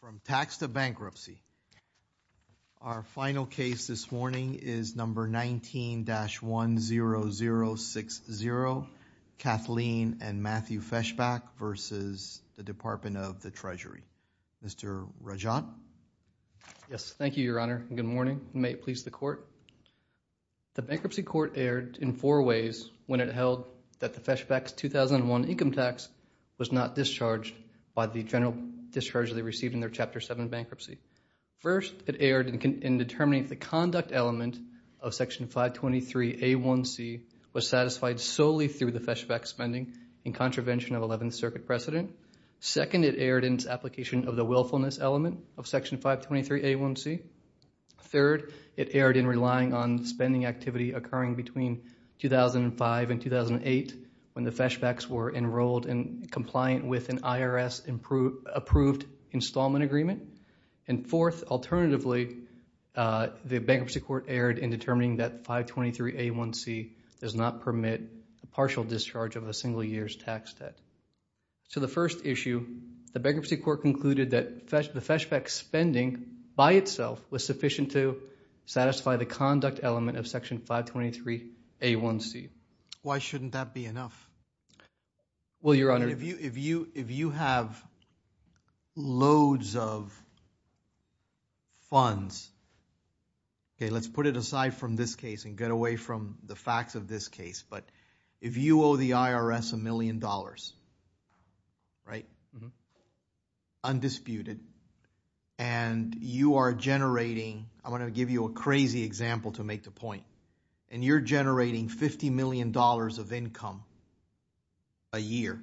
From Tax to Bankruptcy, our final case this morning is number 19-10060, Kathleen and Matthew Feshbach versus the Department of the Treasury. Mr. Rajat? Yes, thank you, Your Honor, and good morning. May it please the Court? The Bankruptcy Court erred in four ways when it held that the Feshbach's 2001 income tax was not discharged by the general discharge they received in their Chapter 7 bankruptcy. First, it erred in determining if the conduct element of Section 523A1C was satisfied solely through the Feshbach spending in contravention of Eleventh Circuit precedent. Second, it erred in its application of the willfulness element of Section 523A1C. Third, it erred in relying on spending activity occurring between 2005 and 2008 when the Feshbachs were enrolled and compliant with an IRS-approved installment agreement. And fourth, alternatively, the Bankruptcy Court erred in determining that 523A1C does not permit partial discharge of a single year's tax debt. So the first issue, the Bankruptcy Court concluded that the Feshbach spending by itself was sufficient to satisfy the conduct element of Section 523A1C. Why shouldn't that be enough? Well, Your Honor. If you have loads of funds, okay, let's put it aside from this case and get away from the facts of this case. But if you owe the IRS a million dollars, right, undisputed, and you are generating – I want to give you a crazy example to make the point. And you're generating $50 million of income a year,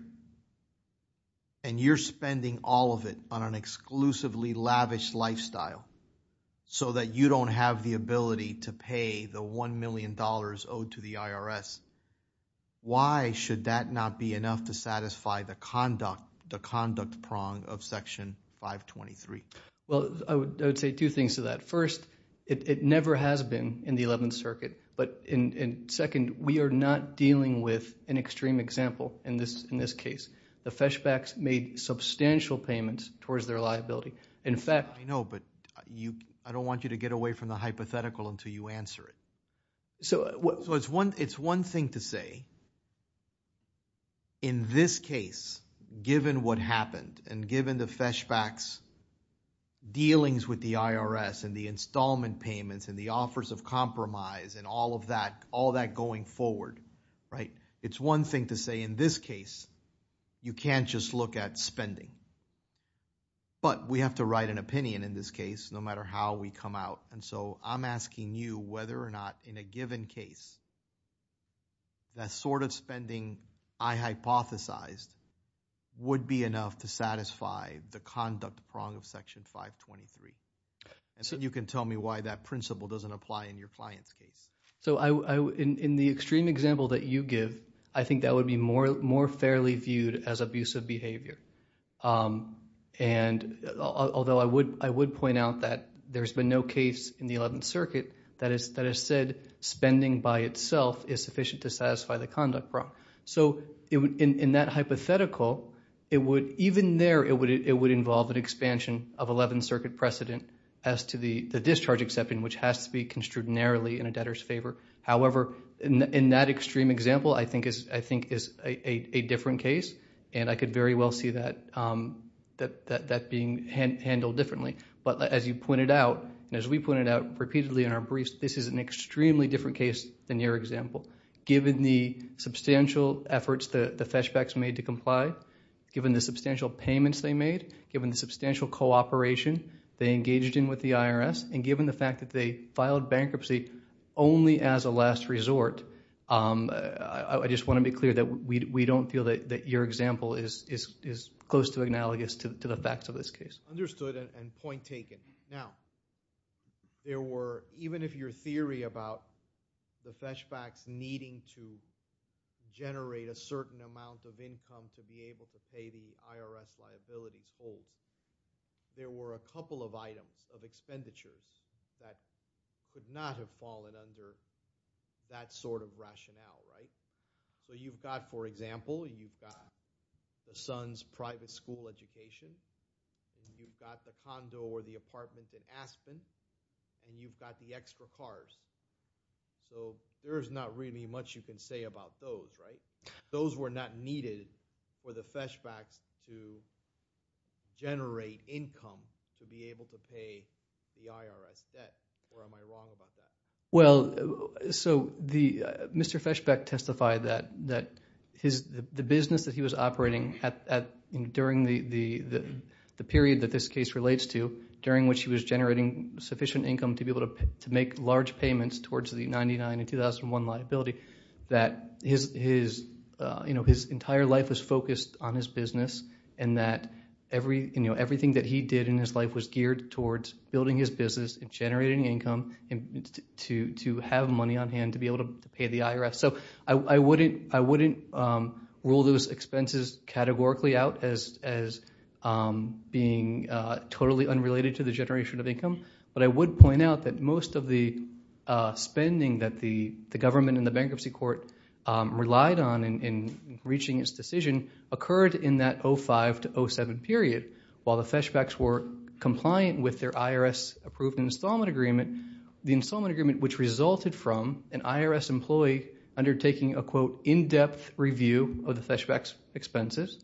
and you're spending all of it on an exclusively lavish lifestyle so that you don't have the ability to pay the $1 million owed to the IRS, why should that not be enough to satisfy the conduct prong of Section 523? Well, I would say two things to that. First, it never has been in the Eleventh Circuit. But second, we are not dealing with an extreme example in this case. The Feshbachs made substantial payments towards their liability. In fact... I know, but I don't want you to get away from the hypothetical until you answer it. So it's one thing to say in this case, given what happened and given the Feshbachs' dealings with the IRS and the installment payments and the offers of compromise and all of that, all that going forward, right, it's one thing to say in this case you can't just look at spending. But we have to write an opinion in this case no matter how we come out. And so I'm asking you whether or not in a given case that sort of spending I hypothesized would be enough to satisfy the conduct prong of Section 523. And so you can tell me why that principle doesn't apply in your client's case. So in the extreme example that you give, I think that would be more fairly viewed as abusive behavior. And although I would point out that there's been no case in the Eleventh Circuit that has said spending by itself is sufficient to satisfy the conduct prong. So in that hypothetical, even there it would involve an expansion of Eleventh Circuit precedent as to the discharge exception, which has to be construed narrowly in a debtor's favor. However, in that extreme example, I think is a different case. And I could very well see that being handled differently. But as you pointed out, and as we pointed out repeatedly in our briefs, this is an extremely different case than your example. Given the substantial efforts the Feshbachs made to comply, given the substantial payments they made, given the substantial cooperation they engaged in with the IRS, and given the fact that they filed bankruptcy only as a last resort, I just want to be clear that we don't feel that your example is close to analogous to the facts of this case. Understood and point taken. Now, even if your theory about the Feshbachs needing to generate a certain amount of income to be able to pay the IRS liabilities holds, there were a couple of items of expenditures that could not have fallen under that sort of rationale, right? So you've got, for example, you've got your son's private school education, you've got the condo or the apartment in Aspen, and you've got the extra cars. So there's not really much you can say about those, right? Those were not needed for the Feshbachs to generate income to be able to pay the IRS debt, or am I wrong about that? Well, so Mr. Feshbach testified that the business that he was operating during the period that this case relates to, during which he was generating sufficient income to be able to make large payments towards the 1999 and 2001 liability, that his entire life was focused on his business and that everything that he did in his life was geared towards building his business and generating income to have money on hand to be able to pay the IRS. So I wouldn't rule those expenses categorically out as being totally unrelated to the generation of income, but I would point out that most of the spending that the government and the bankruptcy court relied on in reaching its decision occurred in that 2005 to 2007 period. While the Feshbachs were compliant with their IRS-approved installment agreement, the installment agreement which resulted from an IRS employee undertaking a, quote, in-depth review of the Feshbachs' expenses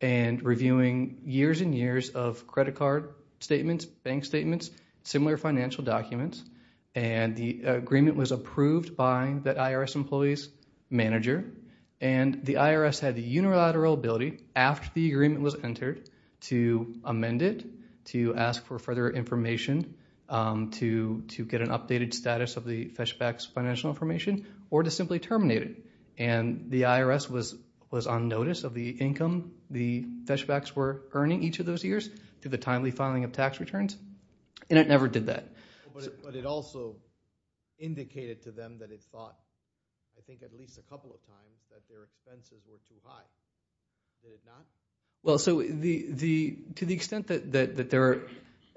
and reviewing years and years of credit card statements, bank statements, similar financial documents, and the agreement was approved by that IRS employee's manager, and the IRS had the unilateral ability after the agreement was entered to amend it, to ask for further information, to get an updated status of the Feshbachs' financial information, or to simply terminate it. And the IRS was on notice of the income the Feshbachs were earning each of those years to the timely filing of tax returns, and it never did that. But it also indicated to them that it thought, I think at least a couple of times, that their expenses were too high. Did it not? Well, so to the extent that there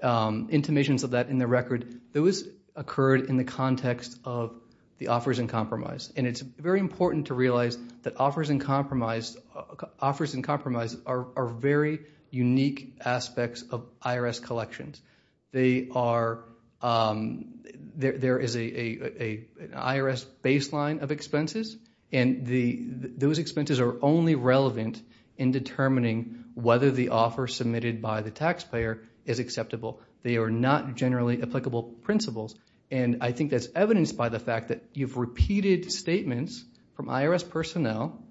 are intimations of that in the record, those occurred in the context of the offers in compromise, and it's very important to realize that offers in compromise are very unique aspects of IRS collections. They are, there is an IRS baseline of expenses, and those expenses are only relevant in determining whether the offer submitted by the taxpayer is acceptable. They are not generally applicable principles, and I think that's evidenced by the fact that you've repeated statements from IRS personnel,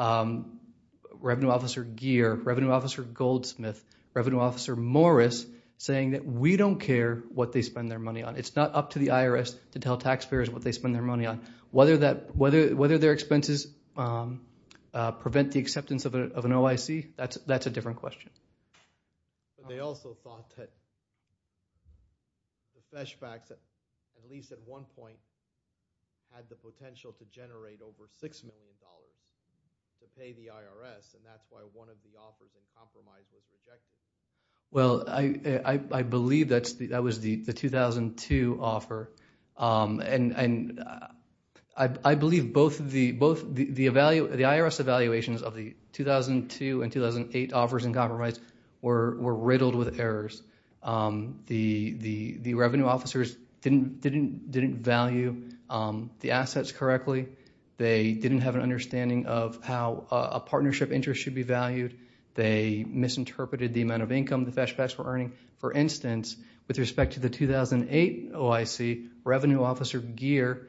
Revenue Officer Geer, Revenue Officer Goldsmith, Revenue Officer Morris, saying that we don't care what they spend their money on. It's not up to the IRS to tell taxpayers what they spend their money on. Whether their expenses prevent the acceptance of an OIC, that's a different question. They also thought that the Fesh Facts, at least at one point, had the potential to generate over $6 million to pay the IRS, and that's why one of the offers in compromise was rejected. Well, I believe that was the 2002 offer, and I believe both the IRS evaluations of the 2002 and 2008 offers in compromise were riddled with errors. The revenue officers didn't value the assets correctly. They didn't have an understanding of how a partnership interest should be valued. They misinterpreted the amount of income the Fesh Facts were earning. For instance, with respect to the 2008 OIC, Revenue Officer Geer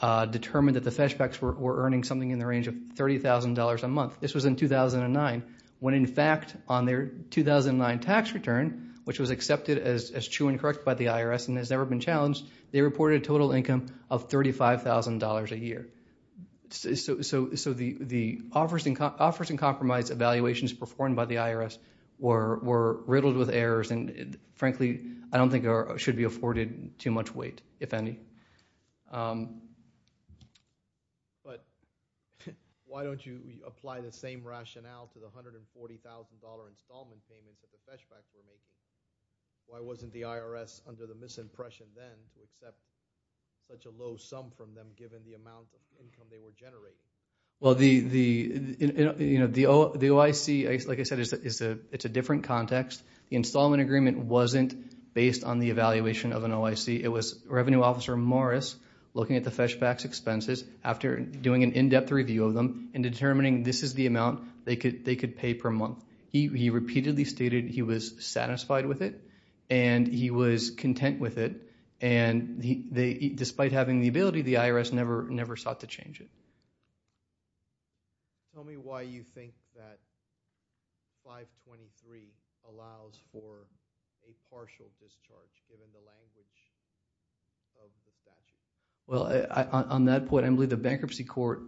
determined that the Fesh Facts were earning something in the range of $30,000 a month. This was in 2009, when in fact on their 2009 tax return, which was accepted as true and correct by the IRS and has never been challenged, they reported a total income of $35,000 a year. So the offers in compromise evaluations performed by the IRS were riddled with errors, and frankly, I don't think they should be afforded too much weight, if any. But why don't you apply the same rationale to the $140,000 installment payment that the Fesh Facts were making? Why wasn't the IRS under the misimpression then to accept such a low sum from them, given the amount of income they were generating? Well, the OIC, like I said, it's a different context. The installment agreement wasn't based on the evaluation of an OIC. It was Revenue Officer Morris looking at the Fesh Facts expenses after doing an in-depth review of them and determining this is the amount they could pay per month. He repeatedly stated he was satisfied with it and he was content with it, and despite having the ability, the IRS never sought to change it. Tell me why you think that 523 allows for a partial discharge, given the language of the statute. Well, on that point, I believe the Bankruptcy Court,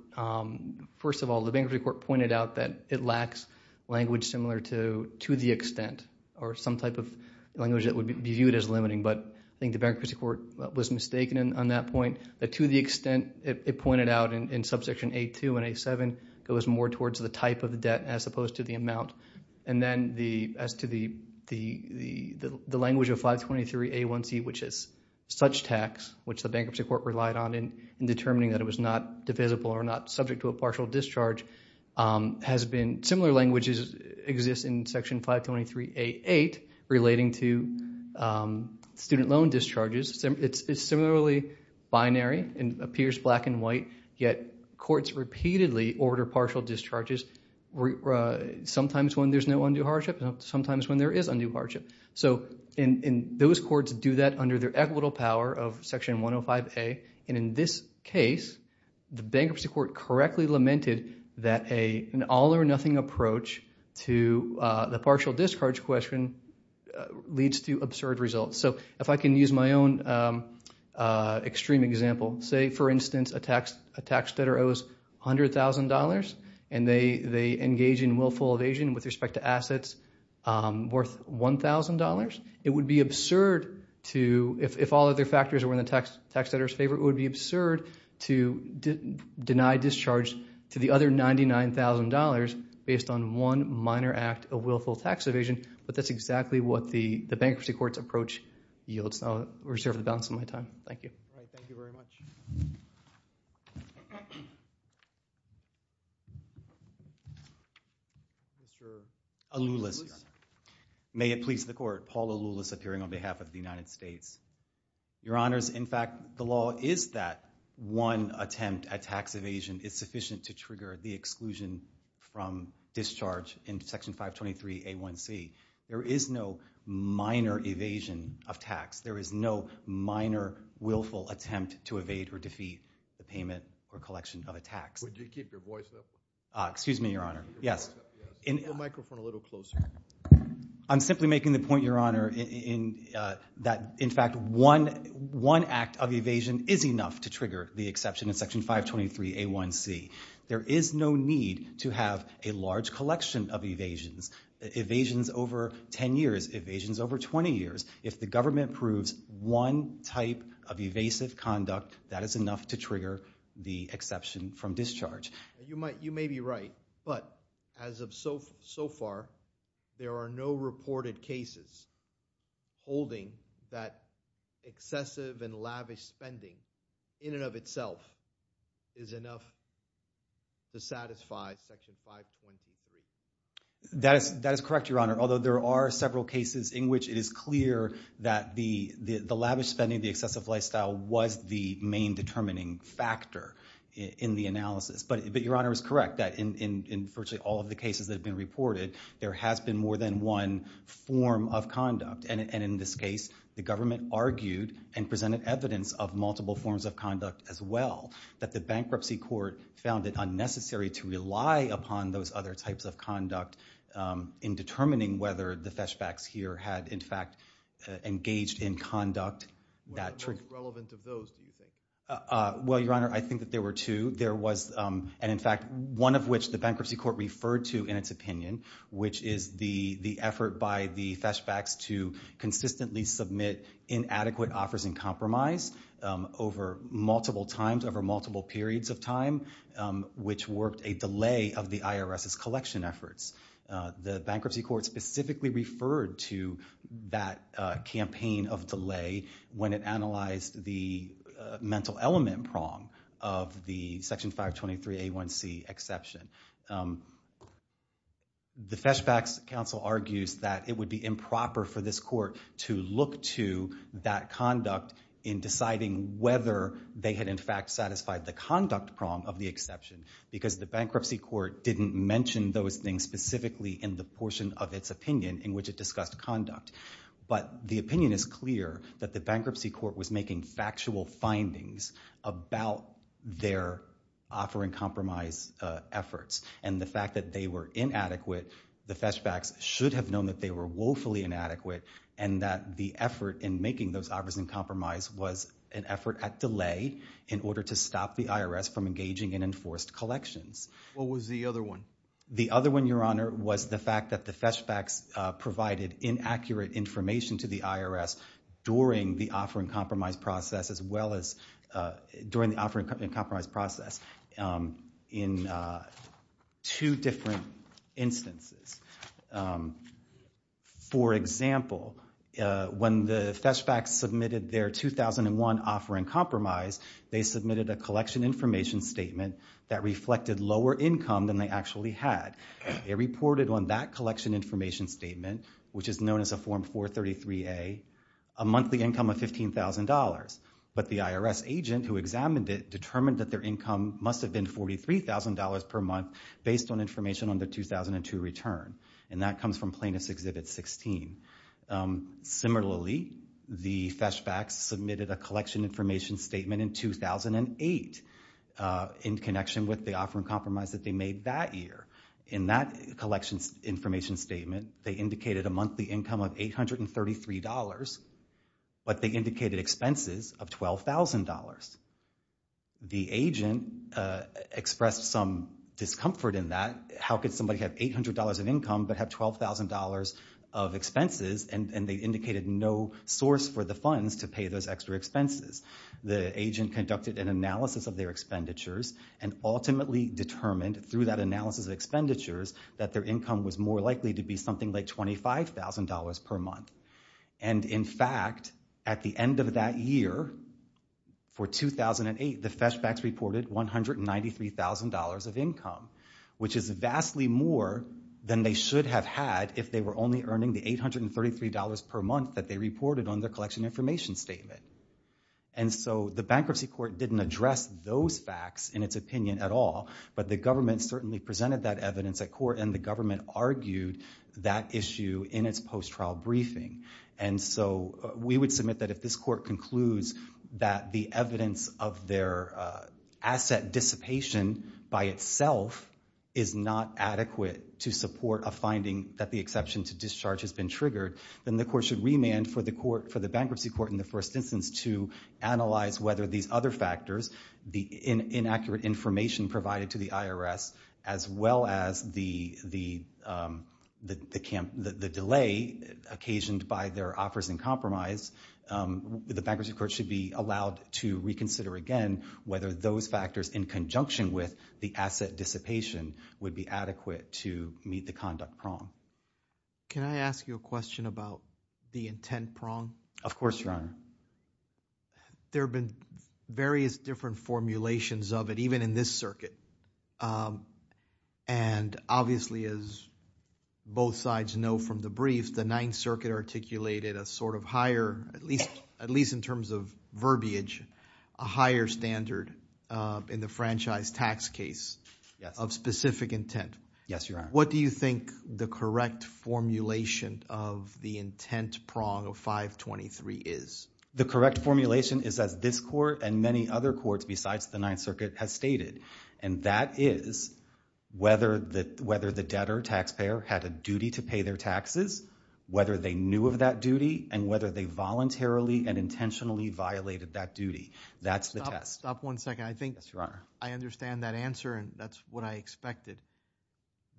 first of all, the Bankruptcy Court pointed out that it lacks language similar to the extent or some type of language that would be viewed as limiting, but I think the Bankruptcy Court was mistaken on that point, that to the extent it pointed out in Subsection A2 and A7 goes more towards the type of debt as opposed to the amount. And then as to the language of 523A1C, which is such tax, which the Bankruptcy Court relied on in determining that it was not divisible or not subject to a partial discharge, similar language exists in Section 523A8 relating to student loan discharges. It's similarly binary and appears black and white, yet courts repeatedly order partial discharges, sometimes when there's no undue hardship and sometimes when there is undue hardship. And those courts do that under their equitable power of Section 105A, and in this case, the Bankruptcy Court correctly lamented that an all-or-nothing approach to the partial discharge question leads to absurd results. So if I can use my own extreme example, say, for instance, a tax debtor owes $100,000 and they engage in willful evasion with respect to assets worth $1,000, it would be absurd to, if all other factors were in the tax debtor's favor, it would be absurd to deny discharge to the other $99,000 based on one minor act of willful tax evasion, but that's exactly what the Bankruptcy Court's approach yields. I'll reserve the balance of my time. Thank you. Thank you very much. Mr. Aloulis. May it please the Court, Paul Aloulis, appearing on behalf of the United States. Your Honors, in fact, the law is that one attempt at tax evasion is sufficient to trigger the exclusion from discharge in Section 523A1C. There is no minor evasion of tax. There is no minor willful attempt to evade or defeat the payment or collection of a tax. Would you keep your voice up? Excuse me, Your Honor. Yes. Put the microphone a little closer. I'm simply making the point, Your Honor, that, in fact, one act of evasion is enough to trigger the exception in Section 523A1C. There is no need to have a large collection of evasions, evasions over 10 years, evasions over 20 years. If the government proves one type of evasive conduct, that is enough to trigger the exception from discharge. You may be right, but as of so far, there are no reported cases holding that excessive and lavish spending in and of itself is enough to satisfy Section 523A1C. That is correct, Your Honor, although there are several cases in which it is clear that the lavish spending, the excessive lifestyle, was the main determining factor in the analysis. But Your Honor is correct, that in virtually all of the cases that have been reported, there has been more than one form of conduct. And in this case, the government argued and presented evidence of multiple forms of conduct as well, that the bankruptcy court found it unnecessary to rely upon those other types of conduct in determining whether the fetchbacks here had, in fact, engaged in conduct that triggered. What are the most relevant of those, do you think? Well, Your Honor, I think that there were two. There was, and in fact, one of which the bankruptcy court referred to in its opinion, which is the effort by the fetchbacks to consistently submit inadequate offers in compromise over multiple times, over multiple periods of time, which worked a delay of the IRS's collection efforts. The bankruptcy court specifically referred to that campaign of delay when it analyzed the mental element prong of the Section 523A1C exception. The fetchbacks counsel argues that it would be improper for this court to look to that conduct in deciding whether they had, in fact, satisfied the conduct prong of the exception because the bankruptcy court didn't mention those things specifically in the portion of its opinion in which it discussed conduct. But the opinion is clear that the bankruptcy court was making factual findings about their offer in compromise efforts, and the fact that they were inadequate, the fetchbacks should have known that they were woefully inadequate and that the effort in making those offers in compromise was an effort at delay in order to stop the IRS from engaging in enforced collections. What was the other one? The other one, Your Honor, was the fact that the fetchbacks provided inaccurate information to the IRS during the offer in compromise process as well as during the offer in compromise process in two different instances. For example, when the fetchbacks submitted their 2001 offer in compromise, they submitted a collection information statement that reflected lower income than they actually had. They reported on that collection information statement, which is known as a Form 433A, a monthly income of $15,000, but the IRS agent who examined it determined that their income must have been $43,000 per month based on information on their 2002 return, and that comes from Plaintiff's Exhibit 16. Similarly, the fetchbacks submitted a collection information statement in 2008 in connection with the offer in compromise that they made that year. In that collection information statement, they indicated a monthly income of $833, but they indicated expenses of $12,000. The agent expressed some discomfort in that. How could somebody have $800 of income but have $12,000 of expenses, and they indicated no source for the funds to pay those extra expenses? The agent conducted an analysis of their expenditures and ultimately determined through that analysis of expenditures that their income was more likely to be something like $25,000 per month. And in fact, at the end of that year, for 2008, the fetchbacks reported $193,000 of income, which is vastly more than they should have had if they were only earning the $833 per month that they reported on their collection information statement. And so the Bankruptcy Court didn't address those facts in its opinion at all, but the government certainly presented that evidence at court, and the government argued that issue in its post-trial briefing. And so we would submit that if this court concludes that the evidence of their asset dissipation by itself is not adequate to support a finding that the exception to discharge has been triggered, then the court should remand for the bankruptcy court in the first instance to analyze whether these other factors, the inaccurate information provided to the IRS, as well as the delay occasioned by their offers in compromise, the Bankruptcy Court should be allowed to reconsider again whether those factors in conjunction with the asset dissipation would be adequate to meet the conduct prong. Can I ask you a question about the intent prong? Of course, Your Honor. There have been various different formulations of it, even in this circuit. And obviously, as both sides know from the brief, the Ninth Circuit articulated a sort of higher, at least in terms of verbiage, a higher standard in the franchise tax case of specific intent. Yes, Your Honor. What do you think the correct formulation of the intent prong of 523 is? The correct formulation is as this court and many other courts besides the Ninth Circuit has stated, and that is whether the debtor, taxpayer, had a duty to pay their taxes, whether they knew of that duty, and whether they voluntarily and intentionally violated that duty. That's the test. Stop one second. I think I understand that answer, and that's what I expected.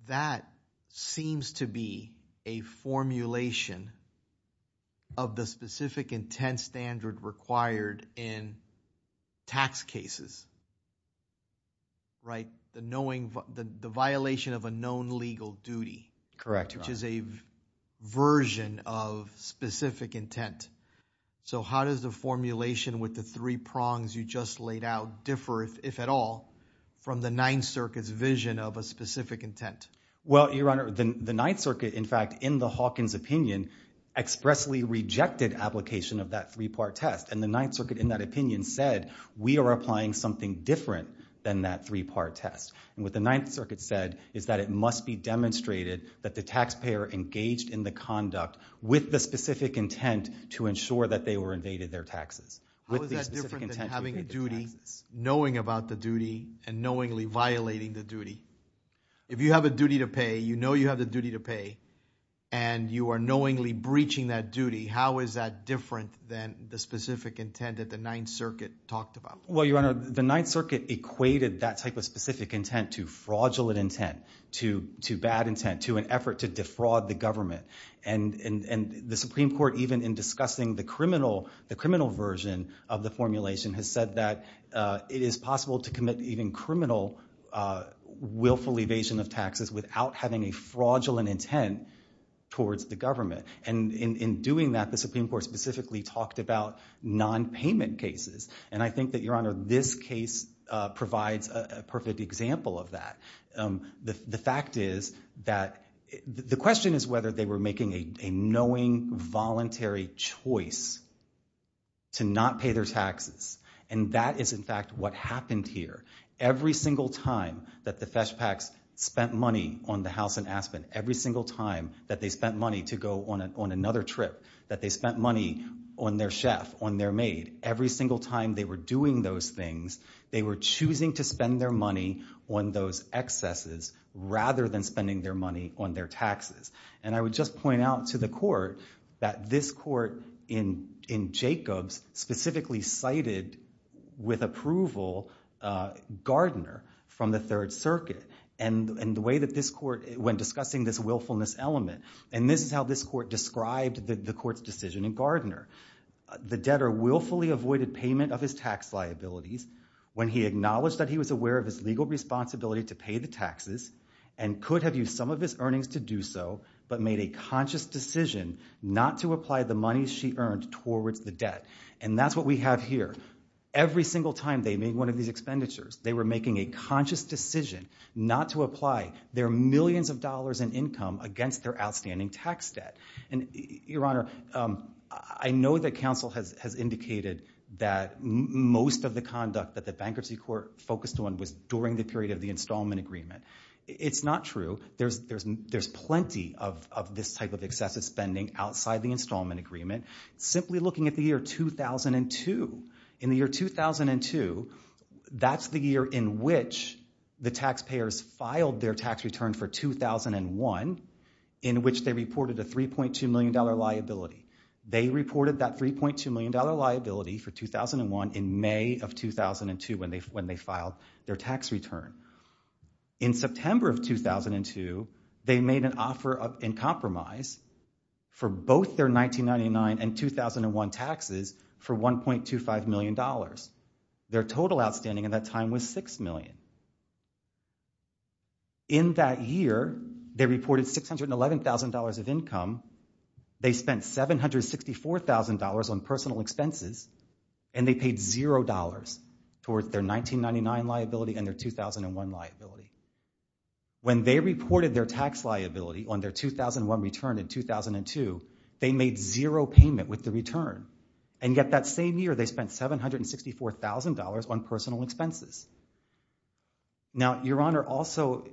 That seems to be a formulation of the specific intent standard required in tax cases. Right? The violation of a known legal duty. Correct, Your Honor. Which is a version of specific intent. So how does the formulation with the three prongs you just laid out differ, if at all, from the Ninth Circuit's vision of a specific intent? Well, Your Honor, the Ninth Circuit, in fact, in the Hawkins opinion, expressly rejected application of that three-part test, and the Ninth Circuit in that opinion said, we are applying something different than that three-part test. And what the Ninth Circuit said is that it must be demonstrated that the taxpayer engaged in the conduct with the specific intent to ensure that they were evaded their taxes. How is that different than having a duty, knowing about the duty, and knowingly violating the duty? If you have a duty to pay, you know you have a duty to pay, and you are knowingly breaching that duty, how is that different than the specific intent that the Ninth Circuit talked about? Well, Your Honor, the Ninth Circuit equated that type of specific intent to fraudulent intent, to bad intent, to an effort to defraud the government. And the Supreme Court, even in discussing the criminal version of the formulation, has said that it is possible to commit even criminal, willful evasion of taxes without having a fraudulent intent towards the government. And in doing that, the Supreme Court specifically talked about nonpayment cases. And I think that, Your Honor, this case provides a perfect example of that. The fact is that the question is whether they were making a knowing, voluntary choice to not pay their taxes. And that is, in fact, what happened here. Every single time that the Feshpaks spent money on the house in Aspen, every single time that they spent money to go on another trip, that they spent money on their chef, on their maid, every single time they were doing those things, they were choosing to spend their money on those excesses rather than spending their money on their taxes. And I would just point out to the Court that this Court in Jacobs specifically cited with approval Gardner from the Third Circuit and the way that this Court, when discussing this willfulness element, and this is how this Court described the Court's decision in Gardner. The debtor willfully avoided payment of his tax liabilities when he acknowledged that he was aware of his legal responsibility to pay the taxes and could have used some of his earnings to do so but made a conscious decision not to apply the money she earned towards the debt. And that's what we have here. Every single time they made one of these expenditures, they were making a conscious decision not to apply their millions of dollars in income against their outstanding tax debt. And, Your Honor, I know that counsel has indicated that most of the conduct that the Bankruptcy Court focused on was during the period of the installment agreement. It's not true. There's plenty of this type of excessive spending outside the installment agreement. Simply looking at the year 2002, in the year 2002, that's the year in which the taxpayers filed their tax return for 2001 in which they reported a $3.2 million liability. They reported that $3.2 million liability for 2001 in May of 2002 when they filed their tax return. In September of 2002, they made an offer in compromise for both their 1999 and 2001 taxes for $1.25 million. Their total outstanding at that time was $6 million. In that year, they reported $611,000 of income, they spent $764,000 on personal expenses, and they paid $0 towards their 1999 liability and their 2001 liability. When they reported their tax liability on their 2001 return in 2002, they made zero payment with the return. And yet that same year, they spent $764,000 on personal expenses. Now, Your Honor, also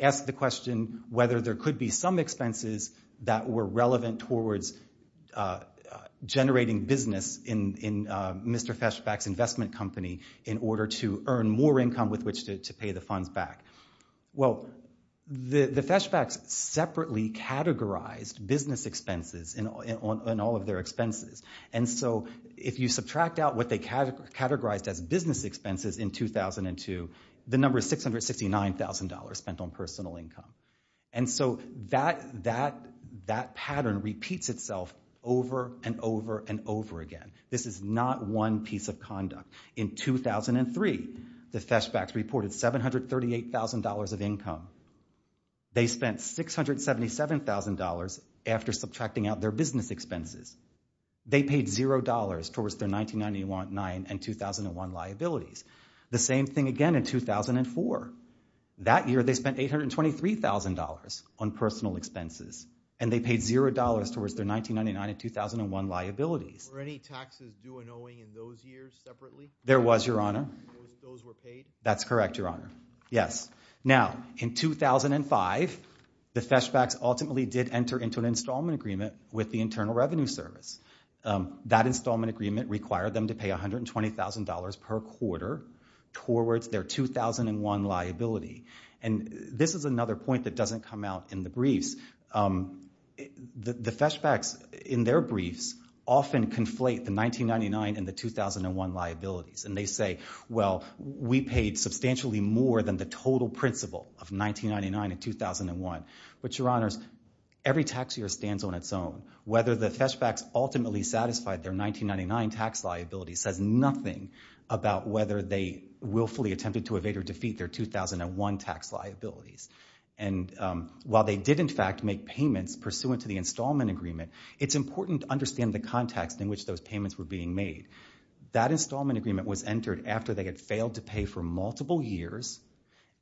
ask the question whether there could be some expenses that were relevant towards generating business in Mr. Feshbach's investment company in order to earn more income with which to pay the funds back. Well, the Feshbachs separately categorized business expenses and all of their expenses. And so if you subtract out what they categorized as business expenses in 2002, the number is $669,000 spent on personal income. And so that pattern repeats itself over and over and over again. This is not one piece of conduct. In 2003, the Feshbachs reported $738,000 of income. They spent $677,000 after subtracting out their business expenses. They paid $0 towards their 1999 and 2001 liabilities. The same thing again in 2004. That year, they spent $823,000 on personal expenses, and they paid $0 towards their 1999 and 2001 liabilities. Were any taxes due and owing in those years separately? There was, Your Honor. Those were paid? That's correct, Your Honor. Yes. Now, in 2005, the Feshbachs ultimately did enter into an installment agreement with the Internal Revenue Service. That installment agreement required them to pay $120,000 per quarter towards their 2001 liability. And this is another point that doesn't come out in the briefs. The Feshbachs, in their briefs, often conflate the 1999 and the 2001 liabilities, and they say, well, we paid substantially more than the total principal of 1999 and 2001. But, Your Honors, every tax year stands on its own. Whether the Feshbachs ultimately satisfied their 1999 tax liability says nothing about whether they willfully attempted to evade or defeat their 2001 tax liabilities. And while they did, in fact, make payments pursuant to the installment agreement, it's important to understand the context in which those payments were being made. That installment agreement was entered after they had failed to pay for multiple years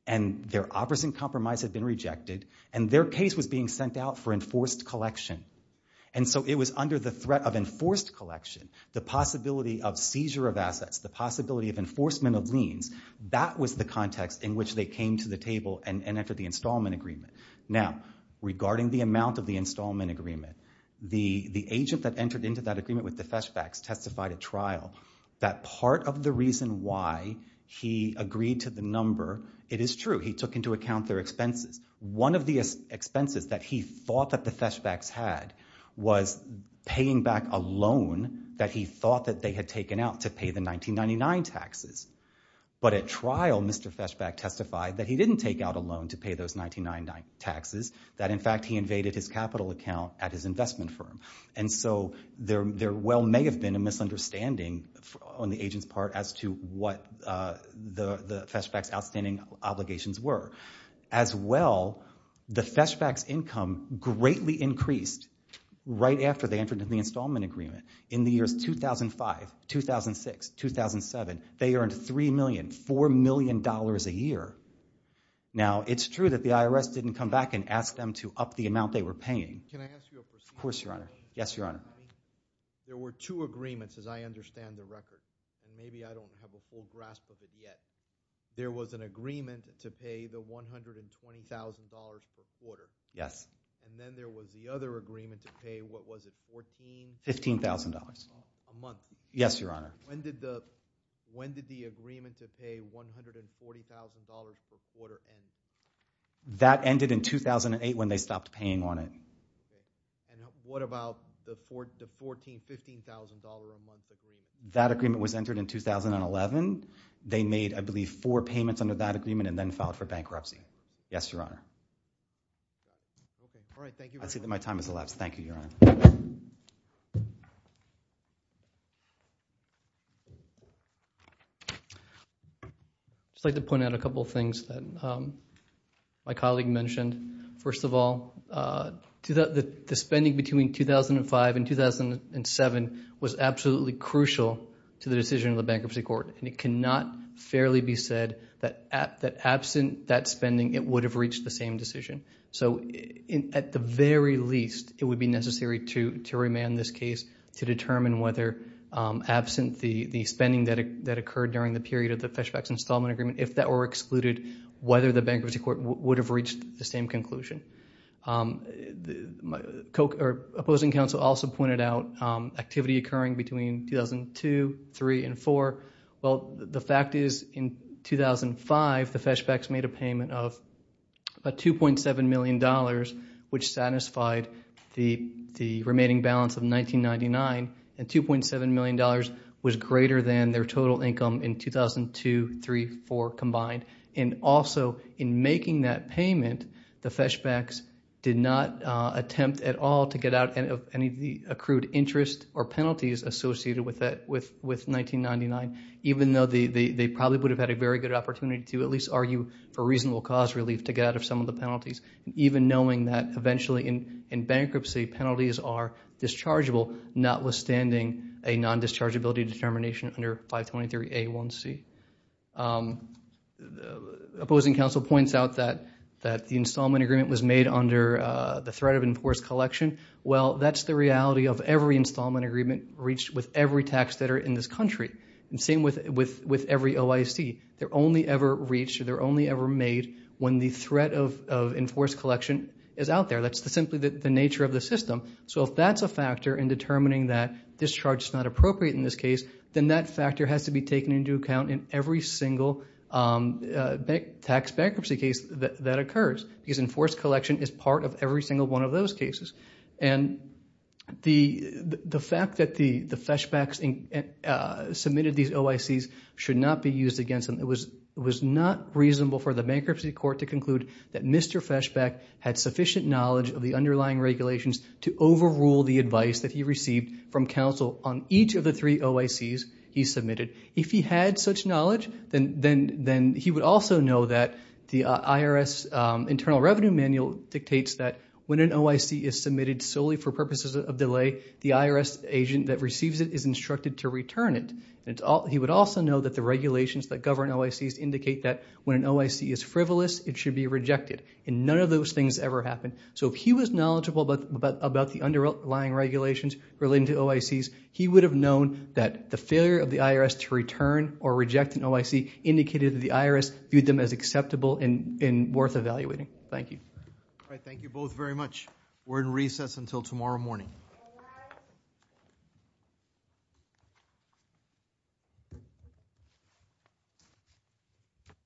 and their opposite compromise had been rejected and their case was being sent out for enforced collection. And so it was under the threat of enforced collection, the possibility of seizure of assets, the possibility of enforcement of liens. That was the context in which they came to the table and entered the installment agreement. Now, regarding the amount of the installment agreement, the agent that entered into that agreement with the Feshbachs testified at trial that part of the reason why he agreed to the number, it is true, he took into account their expenses. One of the expenses that he thought that the Feshbachs had was paying back a loan that he thought that they had taken out to pay the 1999 taxes. But at trial, Mr. Feshbach testified that he didn't take out a loan to pay those 1999 taxes, that, in fact, he invaded his capital account at his investment firm. And so there well may have been a misunderstanding on the agent's part as to what the Feshbachs' outstanding obligations were. As well, the Feshbachs' income greatly increased right after they entered into the installment agreement. In the years 2005, 2006, 2007, they earned $3 million, $4 million a year. Now, it's true that the IRS didn't come back and ask them to up the amount they were paying. Can I ask you a question? Of course, Your Honor. Yes, Your Honor. There were two agreements, as I understand the record, and maybe I don't have a full grasp of it yet. There was an agreement to pay the $120,000 per quarter. Yes. And then there was the other agreement to pay, what was it, $14,000? $15,000. A month. Yes, Your Honor. When did the agreement to pay $140,000 per quarter end? That ended in 2008 when they stopped paying on it. And what about the $14,000, $15,000 a month agreement? That agreement was entered in 2011. They made, I believe, four payments under that agreement and then filed for bankruptcy. Yes, Your Honor. All right, thank you very much. I see that my time has elapsed. Thank you, Your Honor. I'd just like to point out a couple of things that my colleague mentioned. First of all, the spending between 2005 and 2007 was absolutely crucial to the decision of the bankruptcy court, and it cannot fairly be said that absent that spending, it would have reached the same decision. So at the very least, it would be necessary to remand this case to determine whether absent the spending that occurred during the period of the Feshbeck's installment agreement, if that were excluded, whether the bankruptcy court would have reached the same conclusion. Opposing counsel also pointed out activity occurring between 2002, 2003, and 2004. Well, the fact is in 2005, the Feshbecks made a payment of about $2.7 million, which satisfied the remaining balance of 1999, and $2.7 million was greater than their total income in 2002, 2003, 2004 combined. And also, in making that payment, the Feshbecks did not attempt at all to get out of any of the accrued interest or penalties associated with 1999, even though they probably would have had a very good opportunity to at least argue for reasonable cause relief to get out of some of the penalties, even knowing that eventually in bankruptcy, penalties are dischargeable, notwithstanding a non-dischargeability determination under 523A1C. Opposing counsel points out that the installment agreement was made under the threat of enforced collection. Well, that's the reality of every installment agreement reached with every tax debtor in this country, and same with every OIC. They're only ever reached or they're only ever made when the threat of enforced collection is out there. That's simply the nature of the system. So if that's a factor in determining that discharge is not appropriate in this case, then that factor has to be taken into account in every single tax bankruptcy case that occurs because enforced collection is part of every single one of those cases. And the fact that the Feshbecks submitted these OICs should not be used against them. It was not reasonable for the bankruptcy court to conclude that Mr. Feshbeck had sufficient knowledge of the underlying regulations to overrule the advice that he received from counsel on each of the three OICs he submitted. If he had such knowledge, then he would also know that the IRS Internal Revenue Manual dictates that when an OIC is submitted solely for purposes of delay, the IRS agent that receives it is instructed to return it. He would also know that the regulations that govern OICs indicate that when an OIC is frivolous, it should be rejected. And none of those things ever happen. So if he was knowledgeable about the underlying regulations relating to OICs, he would have known that the failure of the IRS to return or reject an OIC indicated that the IRS viewed them as acceptable and worth evaluating. Thank you. All right. Thank you both very much. We're in recess until tomorrow morning. Thank you.